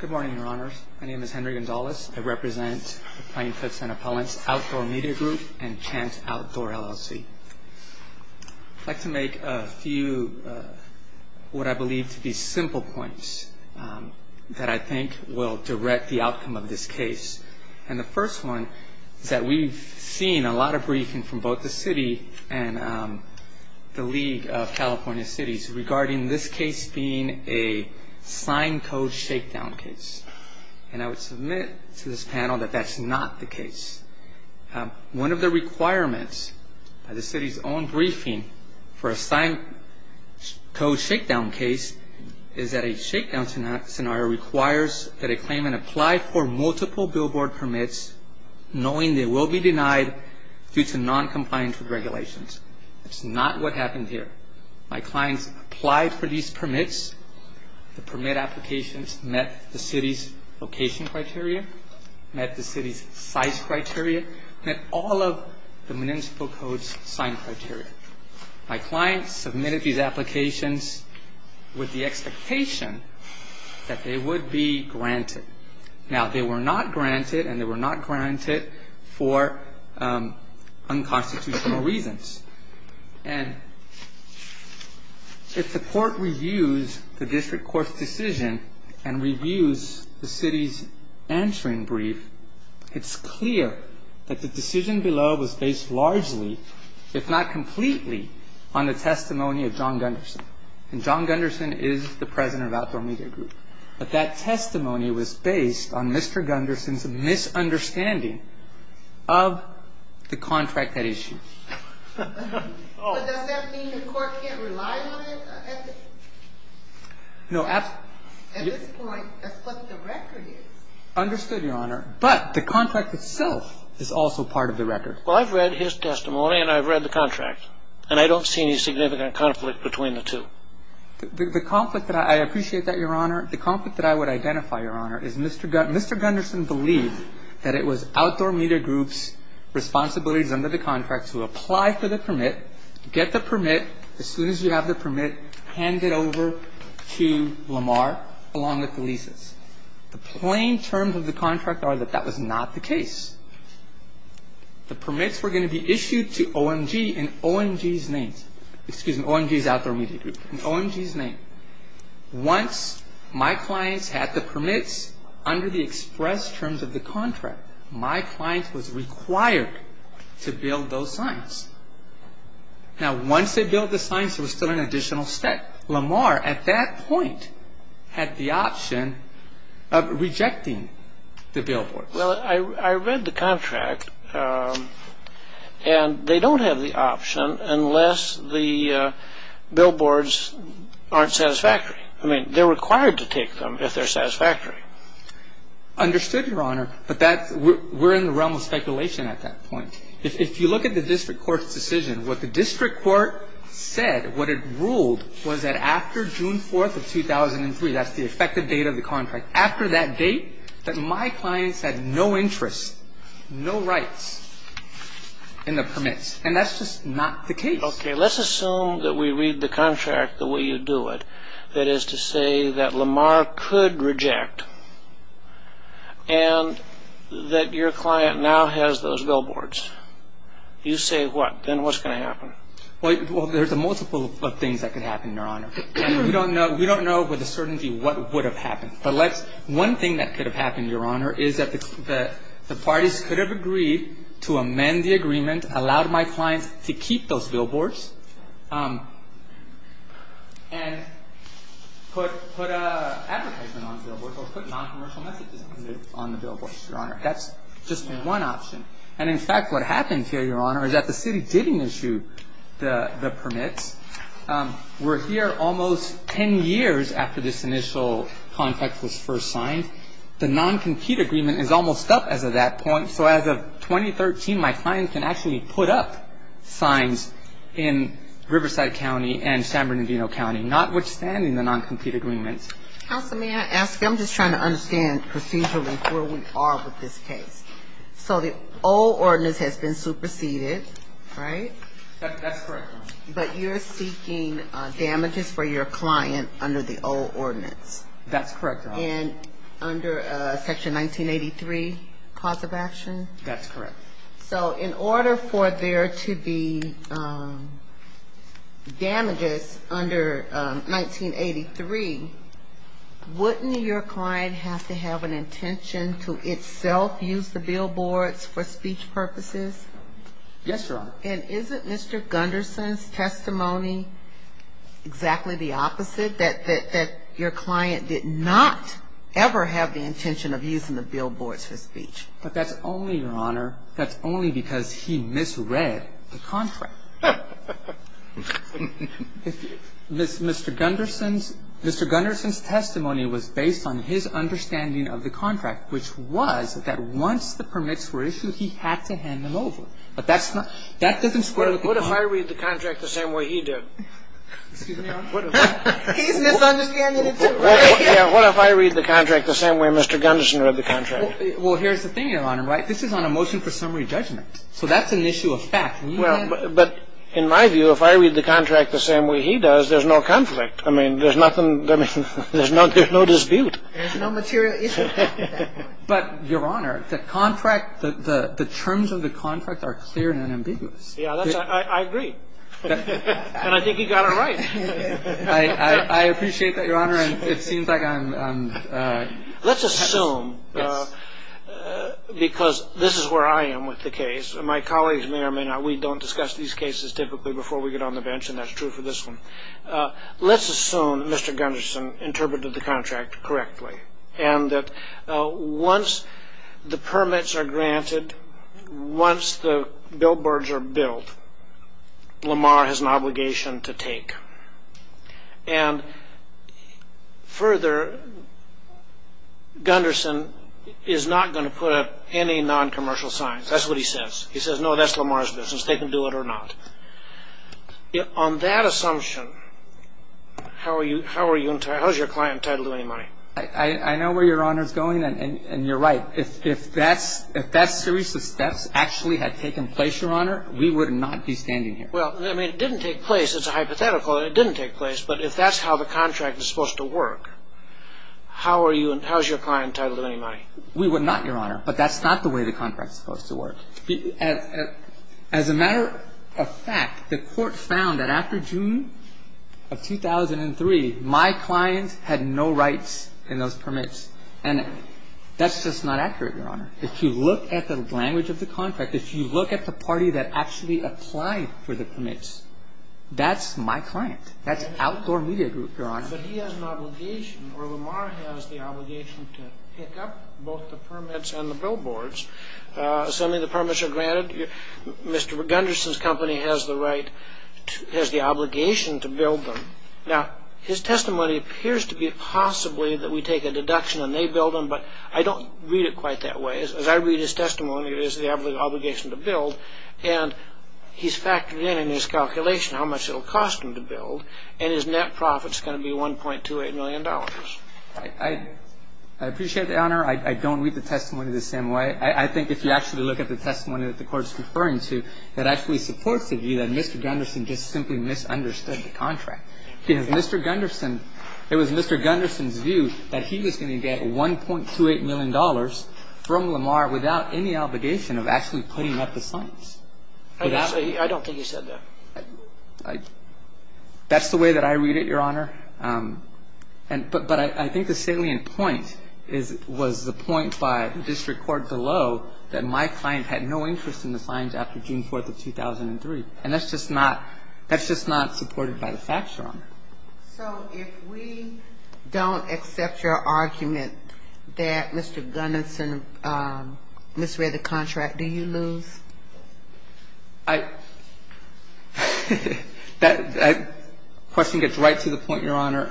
Good morning, Your Honors. My name is Henry Gonzalez. I represent the Plainfoot Senate Appellants, Outdoor Media Group, and Chant Outdoor LLC. I'd like to make a few what I believe to be simple points that I think will direct the outcome of this case. And the first one is that we've seen a lot of briefing from both the City and the League of California Cities regarding this case being a signed code shakedown case. And I would submit to this panel that that's not the case. One of the requirements of the City's own briefing for a signed code shakedown case is that a shakedown scenario requires that a claimant apply for multiple billboard permits knowing they will be denied due to noncompliance with regulations. That's not what happened here. My clients applied for these permits. The permit applications met the City's location criteria, met the City's size criteria, met all of the Municipal Code's signed criteria. My clients submitted these applications with the expectation that they would be granted. Now, they were not granted, and they were not granted for unconstitutional reasons. And if the Court reviews the District Court's decision and reviews the City's answering brief, it's clear that the decision below was based largely, if not completely, on the testimony of John Gunderson. And John Gunderson is the president of Outdoor Media Group. But that testimony was based on Mr. Gunderson's misunderstanding of the contract at issue. But does that mean the Court can't rely on it? No. At this point, that's what the record is. Understood, Your Honor. But the contract itself is also part of the record. Well, I've read his testimony, and I've read the contract. And I don't see any significant conflict between the two. The conflict that I – I appreciate that, Your Honor. The conflict that I would identify, Your Honor, is Mr. – Mr. Gunderson believed that it was Outdoor Media Group's responsibilities under the contract to apply for the permit, get the permit, as soon as you have the permit, hand it over to Lamar, along with the leases. The plain terms of the contract are that that was not the case. The permits were going to be issued to OMG in OMG's name. Excuse me, OMG's Outdoor Media Group. In OMG's name. Once my clients had the permits under the express terms of the contract, my client was required to build those signs. Now, once they built the signs, there was still an additional step. Lamar, at that point, had the option of rejecting the billboards. Well, I read the contract, and they don't have the option unless the billboards aren't satisfactory. I mean, they're required to take them if they're satisfactory. Understood, Your Honor. But that's – we're in the realm of speculation at that point. If you look at the district court's decision, what the district court said, what it ruled, was that after June 4th of 2003 – that's the effective date of the contract – no interest, no rights in the permits. And that's just not the case. Okay, let's assume that we read the contract the way you do it, that is to say that Lamar could reject and that your client now has those billboards. You say what? Then what's going to happen? Well, there's a multiple of things that could happen, Your Honor. We don't know with a certainty what would have happened. But let's – one thing that could have happened, Your Honor, is that the parties could have agreed to amend the agreement, allowed my client to keep those billboards, and put an advertisement on the billboards or put noncommercial messages on the billboards, Your Honor. That's just one option. And, in fact, what happens here, Your Honor, is that the city didn't issue the permits. We're here almost 10 years after this initial contract was first signed. The noncompete agreement is almost up as of that point. So as of 2013, my client can actually put up signs in Riverside County and San Bernardino County, notwithstanding the noncompete agreements. Counsel, may I ask you – I'm just trying to understand procedurally where we are with this case. So the old ordinance has been superseded, right? That's correct, Your Honor. But you're seeking damages for your client under the old ordinance. That's correct, Your Honor. And under Section 1983, cause of action? That's correct. So in order for there to be damages under 1983, wouldn't your client have to have an intention to itself use the billboards for speech purposes? Yes, Your Honor. And isn't Mr. Gunderson's testimony exactly the opposite, that your client did not ever have the intention of using the billboards for speech? But that's only, Your Honor, that's only because he misread the contract. Mr. Gunderson's – Mr. Gunderson's testimony was based on his understanding of the contract, which was that once the permits were issued, he had to hand them over. But that's not – that doesn't square with the contract. What if I read the contract the same way he did? Excuse me, Your Honor. He's misunderstanding it, too. What if I read the contract the same way Mr. Gunderson read the contract? Well, here's the thing, Your Honor, right? This is on a motion for summary judgment. So that's an issue of fact. Well, but in my view, if I read the contract the same way he does, there's no conflict. I mean, there's nothing – I mean, there's no dispute. There's no material issue. But, Your Honor, the contract – the terms of the contract are clear and ambiguous. Yeah, that's – I agree. And I think he got it right. I appreciate that, Your Honor, and it seems like I'm – Let's assume, because this is where I am with the case, and my colleagues may or may not – we don't discuss these cases typically before we get on the bench, and that's true for this one. Let's assume Mr. Gunderson interpreted the contract correctly and that once the permits are granted, once the billboards are built, Lamar has an obligation to take. And further, Gunderson is not going to put up any noncommercial signs. That's what he says. He says, no, that's Lamar's business. They can do it or not. On that assumption, how are you – how is your client entitled to any money? I know where Your Honor is going, and you're right. If that series of steps actually had taken place, Your Honor, we would not be standing here. Well, I mean, it didn't take place. It's a hypothetical that it didn't take place. But if that's how the contract is supposed to work, how are you – how is your client entitled to any money? We would not, Your Honor, but that's not the way the contract is supposed to work. As a matter of fact, the Court found that after June of 2003, my client had no rights in those permits. And that's just not accurate, Your Honor. If you look at the language of the contract, if you look at the party that actually applied for the permits, that's my client. That's outdoor media group, Your Honor. But he has an obligation, or Lamar has the obligation to pick up both the permits and the billboards. Assuming the permits are granted, Mr. Gunderson's company has the right – has the obligation to build them. Now, his testimony appears to be possibly that we take a deduction and they build them, but I don't read it quite that way. As I read his testimony, it is the obligation to build. And he's factored in in his calculation how much it will cost him to build, and his net profit is going to be $1.28 million. I appreciate that, Your Honor. I don't read the testimony the same way. I think if you actually look at the testimony that the Court is referring to, it actually supports the view that Mr. Gunderson just simply misunderstood the contract. Because Mr. Gunderson – it was Mr. Gunderson's view that he was going to get $1.28 million from Lamar without any obligation of actually putting up the signs. I don't think he said that. That's the way that I read it, Your Honor. And – but I think the salient point is – was the point by district court below that my client had no interest in the signs after June 4th of 2003. And that's just not – that's just not supported by the facts, Your Honor. So if we don't accept your argument that Mr. Gunderson misread the contract, do you lose? I – that question gets right to the point, Your Honor.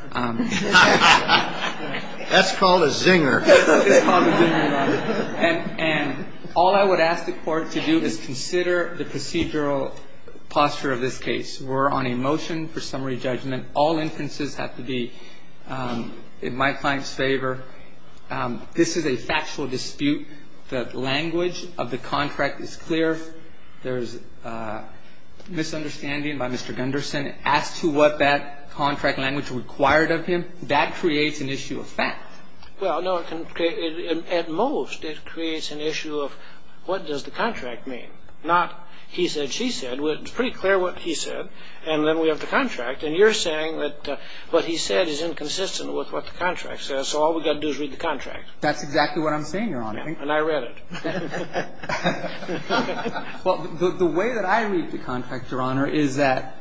That's called a zinger. It's called a zinger, Your Honor. And all I would ask the Court to do is consider the procedural posture of this case. We're on a motion for summary judgment. All inferences have to be in my client's favor. This is a factual dispute. The language of the contract is clear. There's misunderstanding by Mr. Gunderson as to what that contract language required of him. That creates an issue of fact. Well, no, it can – at most, it creates an issue of what does the contract mean, not he said, she said. It's pretty clear what he said, and then we have the contract. And you're saying that what he said is inconsistent with what the contract says, so all we've got to do is read the contract. That's exactly what I'm saying, Your Honor. And I read it. Well, the way that I read the contract, Your Honor, is that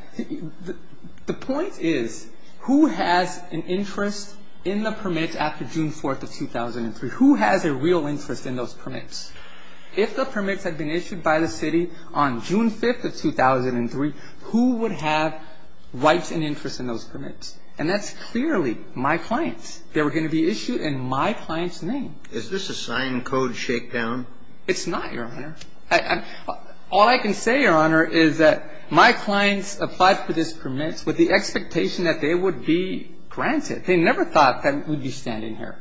the point is who has an interest in the permits after June 4th of 2003? Who has a real interest in those permits? If the permits had been issued by the city on June 5th of 2003, who would have rights and interest in those permits? And that's clearly my clients. If the permits had been issued by the city on June 5th of 2003, who would have rights and interest in those permits? There were going to be issues in my client's name. Is this a signed-code shakedown? It's not, Your Honor. All I can say, Your Honor, is that my clients applied for these permits with the expectation that they would be granted. They never thought that we'd be standing here.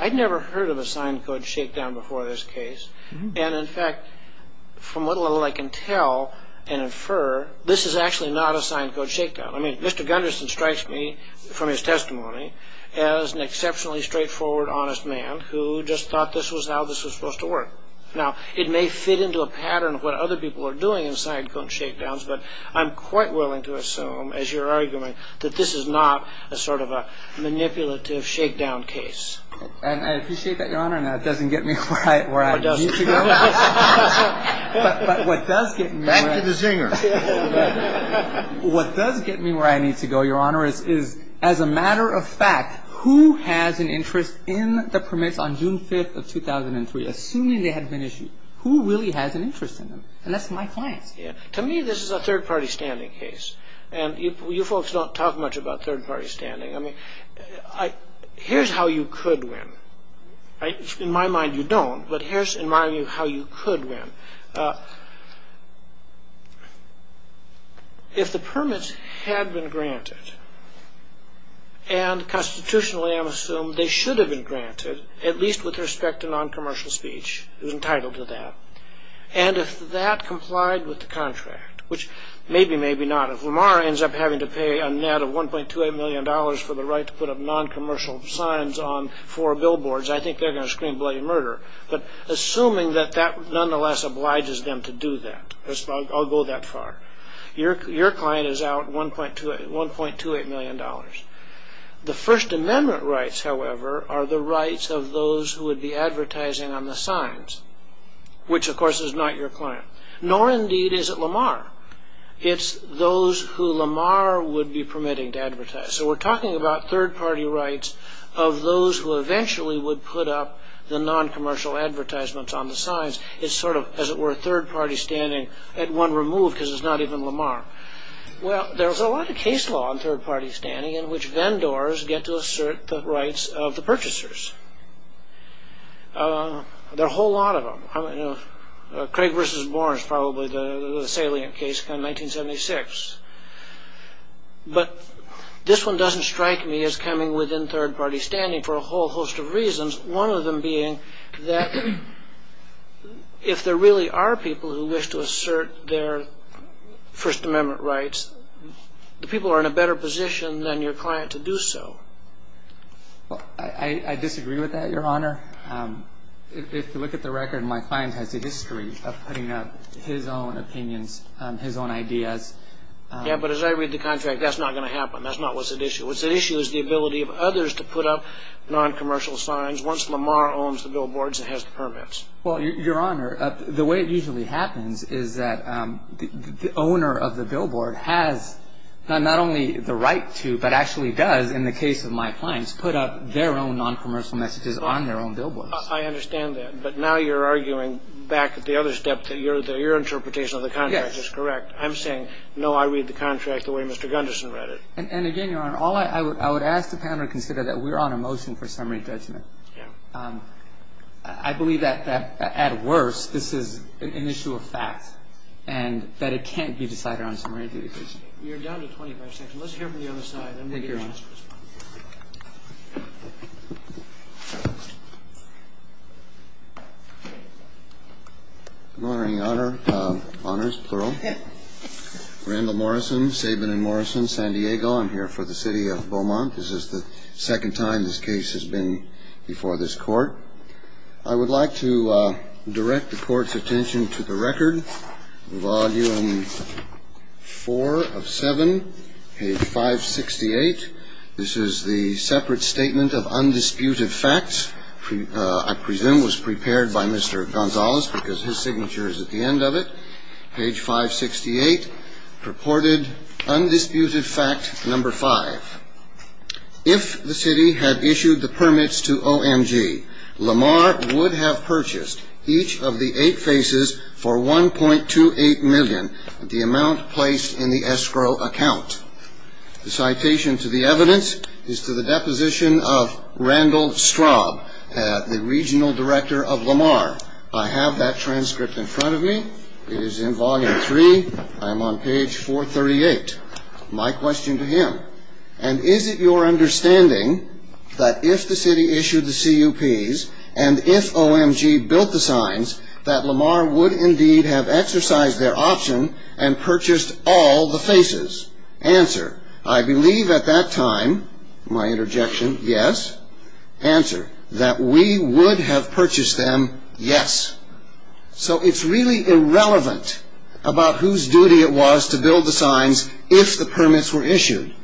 I'd never heard of a signed-code shakedown before this case. And, in fact, from what little I can tell and infer, this is actually not a signed-code shakedown. I mean, Mr. Gunderson strikes me from his testimony as an exceptionally straightforward, honest man who just thought this was how this was supposed to work. Now, it may fit into a pattern of what other people are doing in signed-code shakedowns, but I'm quite willing to assume, as you're arguing, that this is not a sort of a manipulative shakedown case. And I appreciate that, Your Honor, and that doesn't get me where I need to go. It does. But what does get me where I need to go, Your Honor, is, as a matter of fact, who has an interest in the permits on June 5th of 2003, assuming they hadn't been issued? Who really has an interest in them? And that's my clients. To me, this is a third-party standing case. And you folks don't talk much about third-party standing. I mean, here's how you could win. In my mind, you don't. But here's, in my view, how you could win. If the permits had been granted, and constitutionally, I'm assumed, they should have been granted, at least with respect to noncommercial speech, who's entitled to that, and if that complied with the contract, which maybe, maybe not. If Lamar ends up having to pay a net of $1.28 million for the right to put up noncommercial signs on four billboards, I think they're going to scream bloody murder. But assuming that that nonetheless obliges them to do that, I'll go that far. Your client is out $1.28 million. The First Amendment rights, however, are the rights of those who would be advertising on the signs, which, of course, is not your client. Nor, indeed, is it Lamar. It's those who Lamar would be permitting to advertise. So we're talking about third-party rights of those who eventually would put up the noncommercial advertisements on the signs. It's sort of, as it were, third-party standing, and one removed because it's not even Lamar. Well, there's a lot of case law on third-party standing in which vendors get to assert the rights of the purchasers. There are a whole lot of them. Craig v. Boren is probably the salient case from 1976. But this one doesn't strike me as coming within third-party standing for a whole host of reasons, one of them being that if there really are people who wish to assert their First Amendment rights, the people are in a better position than your client to do so. I disagree with that, Your Honor. If you look at the record, my client has a history of putting up his own opinions, his own ideas. Yeah, but as I read the contract, that's not going to happen. That's not what's at issue. What's at issue is the ability of others to put up noncommercial signs. Once Lamar owns the billboards and has the permits. Well, Your Honor, the way it usually happens is that the owner of the billboard has not only the right to, but actually does, in the case of my clients, put up their own noncommercial messages on their own billboards. I understand that. But now you're arguing back at the other step that your interpretation of the contract is correct. I'm saying, no, I read the contract the way Mr. Gunderson read it. And again, Your Honor, all I would ask the panel to consider is that we're on a motion for summary judgment. Yeah. I believe that, at worst, this is an issue of fact and that it can't be decided on a summary decision. You're down to 25 seconds. Let's hear from the other side. Thank you, Your Honor. Good morning, Your Honor, honors, plural. Randall Morrison, Saban & Morrison, San Diego. I'm here for the City of Beaumont. This is the second time this case has been before this Court. I would like to direct the Court's attention to the record. Volume 4 of 7, page 568. This is the separate statement of undisputed facts. I presume it was prepared by Mr. Gonzalez because his signature is at the end of it. Page 568, purported undisputed fact number 5. If the city had issued the permits to OMG, Lamar would have purchased each of the eight faces for $1.28 million, the amount placed in the escrow account. The citation to the evidence is to the deposition of Randall Straub, the regional director of Lamar. I have that transcript in front of me. It is in Volume 3. I am on page 438. My question to him. And is it your understanding that if the city issued the CUPs and if OMG built the signs, that Lamar would indeed have exercised their option and purchased all the faces? Answer. I believe at that time, my interjection, yes. Answer. That we would have purchased them, yes. So it's really irrelevant about whose duty it was to build the signs if the permits were issued.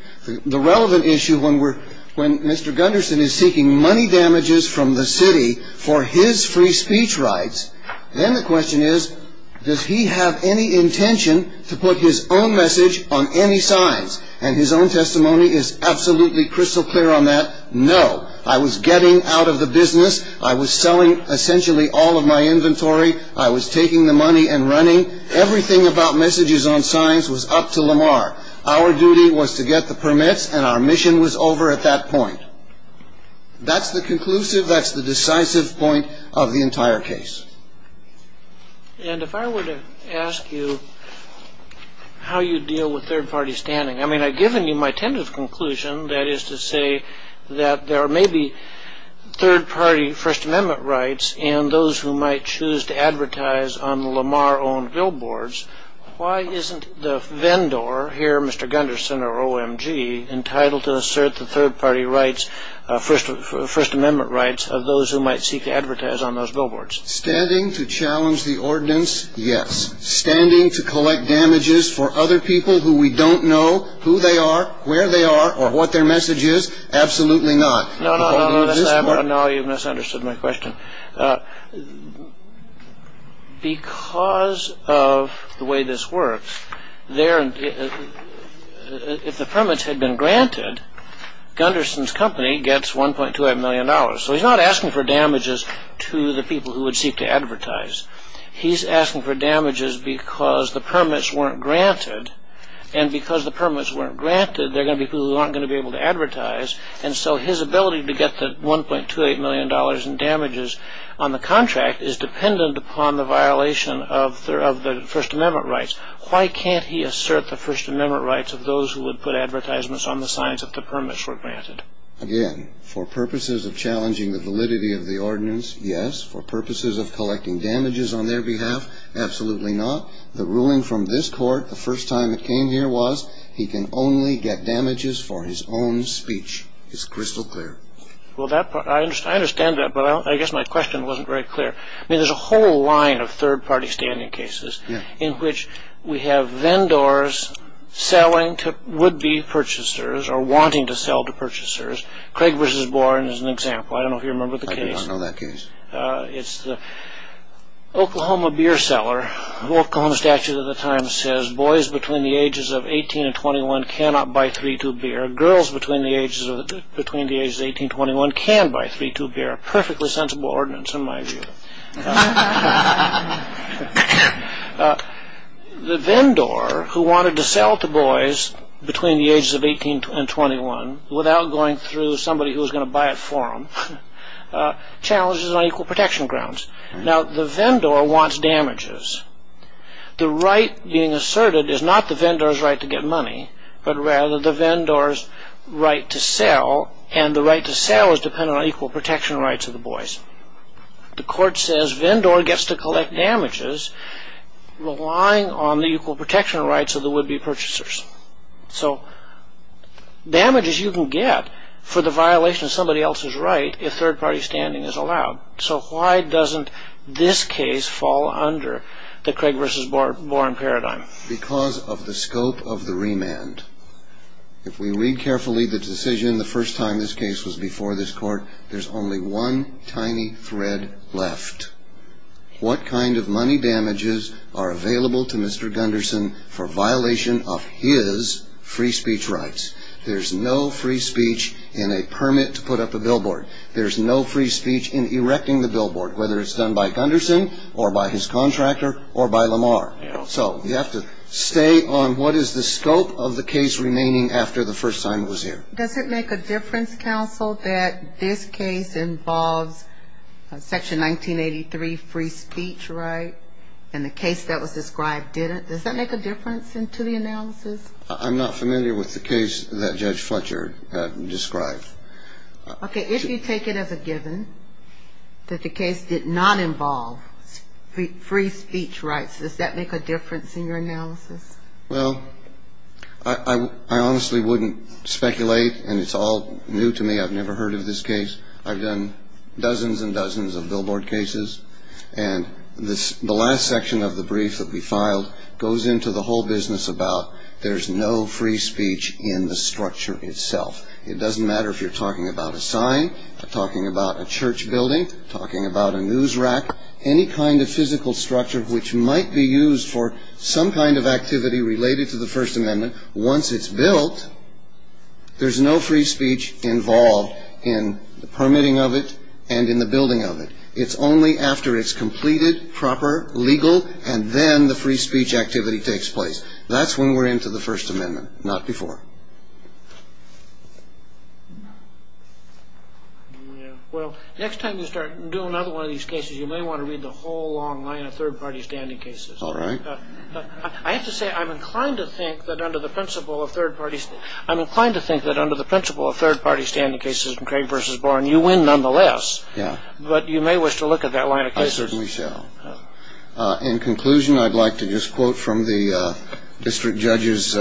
The relevant issue when Mr. Gunderson is seeking money damages from the city for his free speech rights, then the question is, does he have any intention to put his own message on any signs? And his own testimony is absolutely crystal clear on that, no. I was getting out of the business. I was selling essentially all of my inventory. I was taking the money and running. Everything about messages on signs was up to Lamar. Our duty was to get the permits, and our mission was over at that point. That's the conclusive, that's the decisive point of the entire case. And if I were to ask you how you deal with third-party standing, I mean, I've given you my tentative conclusion, that is to say that there may be third-party First Amendment rights and those who might choose to advertise on the Lamar-owned billboards. Why isn't the vendor here, Mr. Gunderson or OMG, entitled to assert the third-party rights, First Amendment rights of those who might seek to advertise on those billboards? Standing to challenge the ordinance, yes. Standing to collect damages for other people who we don't know who they are, where they are, or what their message is? Absolutely not. No, no, no, no, you've misunderstood my question. Because of the way this works, if the permits had been granted, Gunderson's company gets $1.2 million. So he's not asking for damages to the people who would seek to advertise. He's asking for damages because the permits weren't granted. And because the permits weren't granted, there are going to be people who aren't going to be able to advertise. And so his ability to get the $1.28 million in damages on the contract is dependent upon the violation of the First Amendment rights. Why can't he assert the First Amendment rights of those who would put advertisements on the signs that the permits were granted? Again, for purposes of challenging the validity of the ordinance, yes. For purposes of collecting damages on their behalf, absolutely not. The ruling from this court the first time it came here was he can only get damages for his own speech. It's crystal clear. Well, I understand that, but I guess my question wasn't very clear. I mean, there's a whole line of third-party standing cases in which we have vendors selling to would-be purchasers or wanting to sell to purchasers. Craig v. Boren is an example. I don't know if you remember the case. I don't know that case. It's the Oklahoma beer seller. The Oklahoma statute of the time says boys between the ages of 18 and 21 cannot buy 3-2 beer. Girls between the ages of 18 and 21 can buy 3-2 beer. A perfectly sensible ordinance in my view. The vendor who wanted to sell to boys between the ages of 18 and 21 without going through somebody who was going to buy it for them challenges on equal protection grounds. Now, the vendor wants damages. The right being asserted is not the vendor's right to get money, but rather the vendor's right to sell, and the right to sell is dependent on equal protection rights of the boys. The court says vendor gets to collect damages relying on the equal protection rights of the would-be purchasers. So damages you can get for the violation of somebody else's right if third-party standing is allowed. So why doesn't this case fall under the Craig v. Boren paradigm? Because of the scope of the remand. If we read carefully the decision the first time this case was before this court, there's only one tiny thread left. What kind of money damages are available to Mr. Gunderson for violation of his free speech rights? There's no free speech in a permit to put up a billboard. There's no free speech in erecting the billboard, whether it's done by Gunderson or by his contractor or by Lamar. So you have to stay on what is the scope of the case remaining after the first time it was here. Does it make a difference, counsel, that this case involves Section 1983 free speech right and the case that was described didn't? Does that make a difference to the analysis? I'm not familiar with the case that Judge Fletcher described. Okay, if you take it as a given that the case did not involve free speech rights, does that make a difference in your analysis? Well, I honestly wouldn't speculate, and it's all new to me. I've never heard of this case. I've done dozens and dozens of billboard cases. And the last section of the brief that we filed goes into the whole business about there's no free speech in the structure itself. It doesn't matter if you're talking about a sign, talking about a church building, talking about a news rack, any kind of physical structure which might be used for some kind of activity related to the First Amendment. Once it's built, there's no free speech involved in the permitting of it and in the building of it. It's only after it's completed, proper, legal, and then the free speech activity takes place. That's when we're into the First Amendment, not before. Well, next time you start doing another one of these cases, you may want to read the whole long line of third-party standing cases. All right. I have to say, I'm inclined to think that under the principle of third-party. I'm inclined to think that under the principle of third-party standing cases and Craig versus Boren, you win nonetheless. Yeah. But you may wish to look at that line of cases. We shall. In conclusion, I'd like to just quote from the district judge's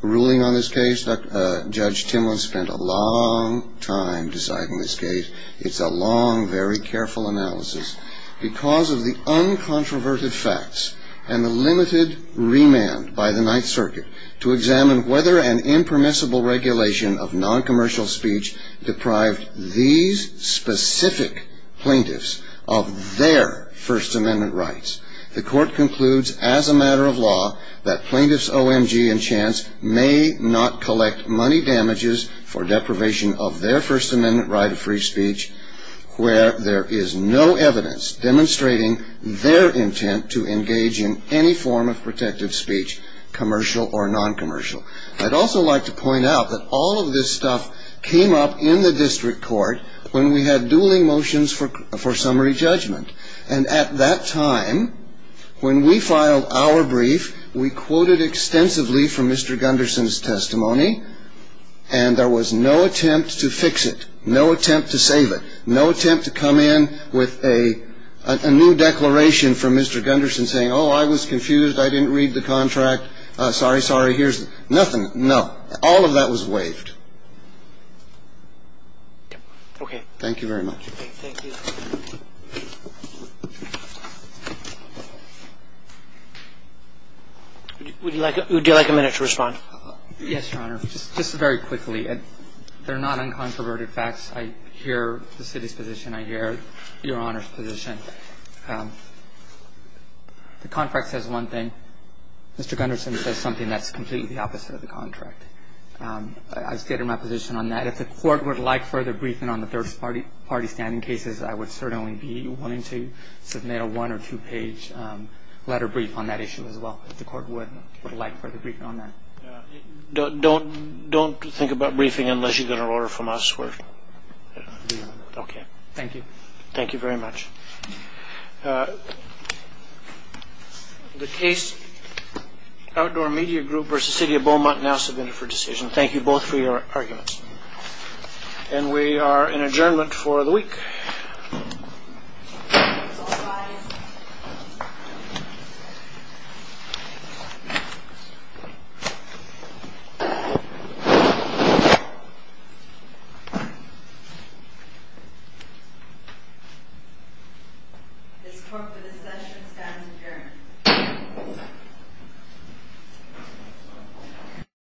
ruling on this case. Judge Timlin spent a long time deciding this case. It's a long, very careful analysis. Because of the uncontroverted facts and the limited remand by the Ninth Circuit to examine whether an impermissible regulation of noncommercial speech deprived these specific plaintiffs of their First Amendment rights. The court concludes as a matter of law that plaintiffs O.M.G. and Chance may not collect money damages for deprivation of their First Amendment right of free speech where there is no evidence demonstrating their intent to engage in any form of protective speech, commercial or noncommercial. I'd also like to point out that all of this stuff came up in the district court when we had dueling motions for summary judgment. And at that time, when we filed our brief, we quoted extensively from Mr. Gunderson's testimony. And there was no attempt to fix it, no attempt to save it, no attempt to come in with a new declaration from Mr. Gunderson saying, oh, I was confused, I didn't read the contract, sorry, sorry, here's nothing. No. All of that was waived. Thank you very much. Would you like a minute to respond? Yes, Your Honor. Just very quickly. They're not uncontroverted facts. I hear the city's position. I hear Your Honor's position. The contract says one thing. Mr. Gunderson says something that's completely the opposite of the contract. I stand in my position on that. If the court would like further briefing on the third-party standing cases, I would certainly be willing to submit a one- or two-page letter brief on that issue as well, if the court would like further briefing on that. Don't think about briefing unless you get an order from us. Okay. Thank you. Thank you very much. The Case Outdoor Media Group v. City of Beaumont now submitted for decision. Thank you both for your arguments. And we are in adjournment for the week. All rise. This court for this session stands adjourned.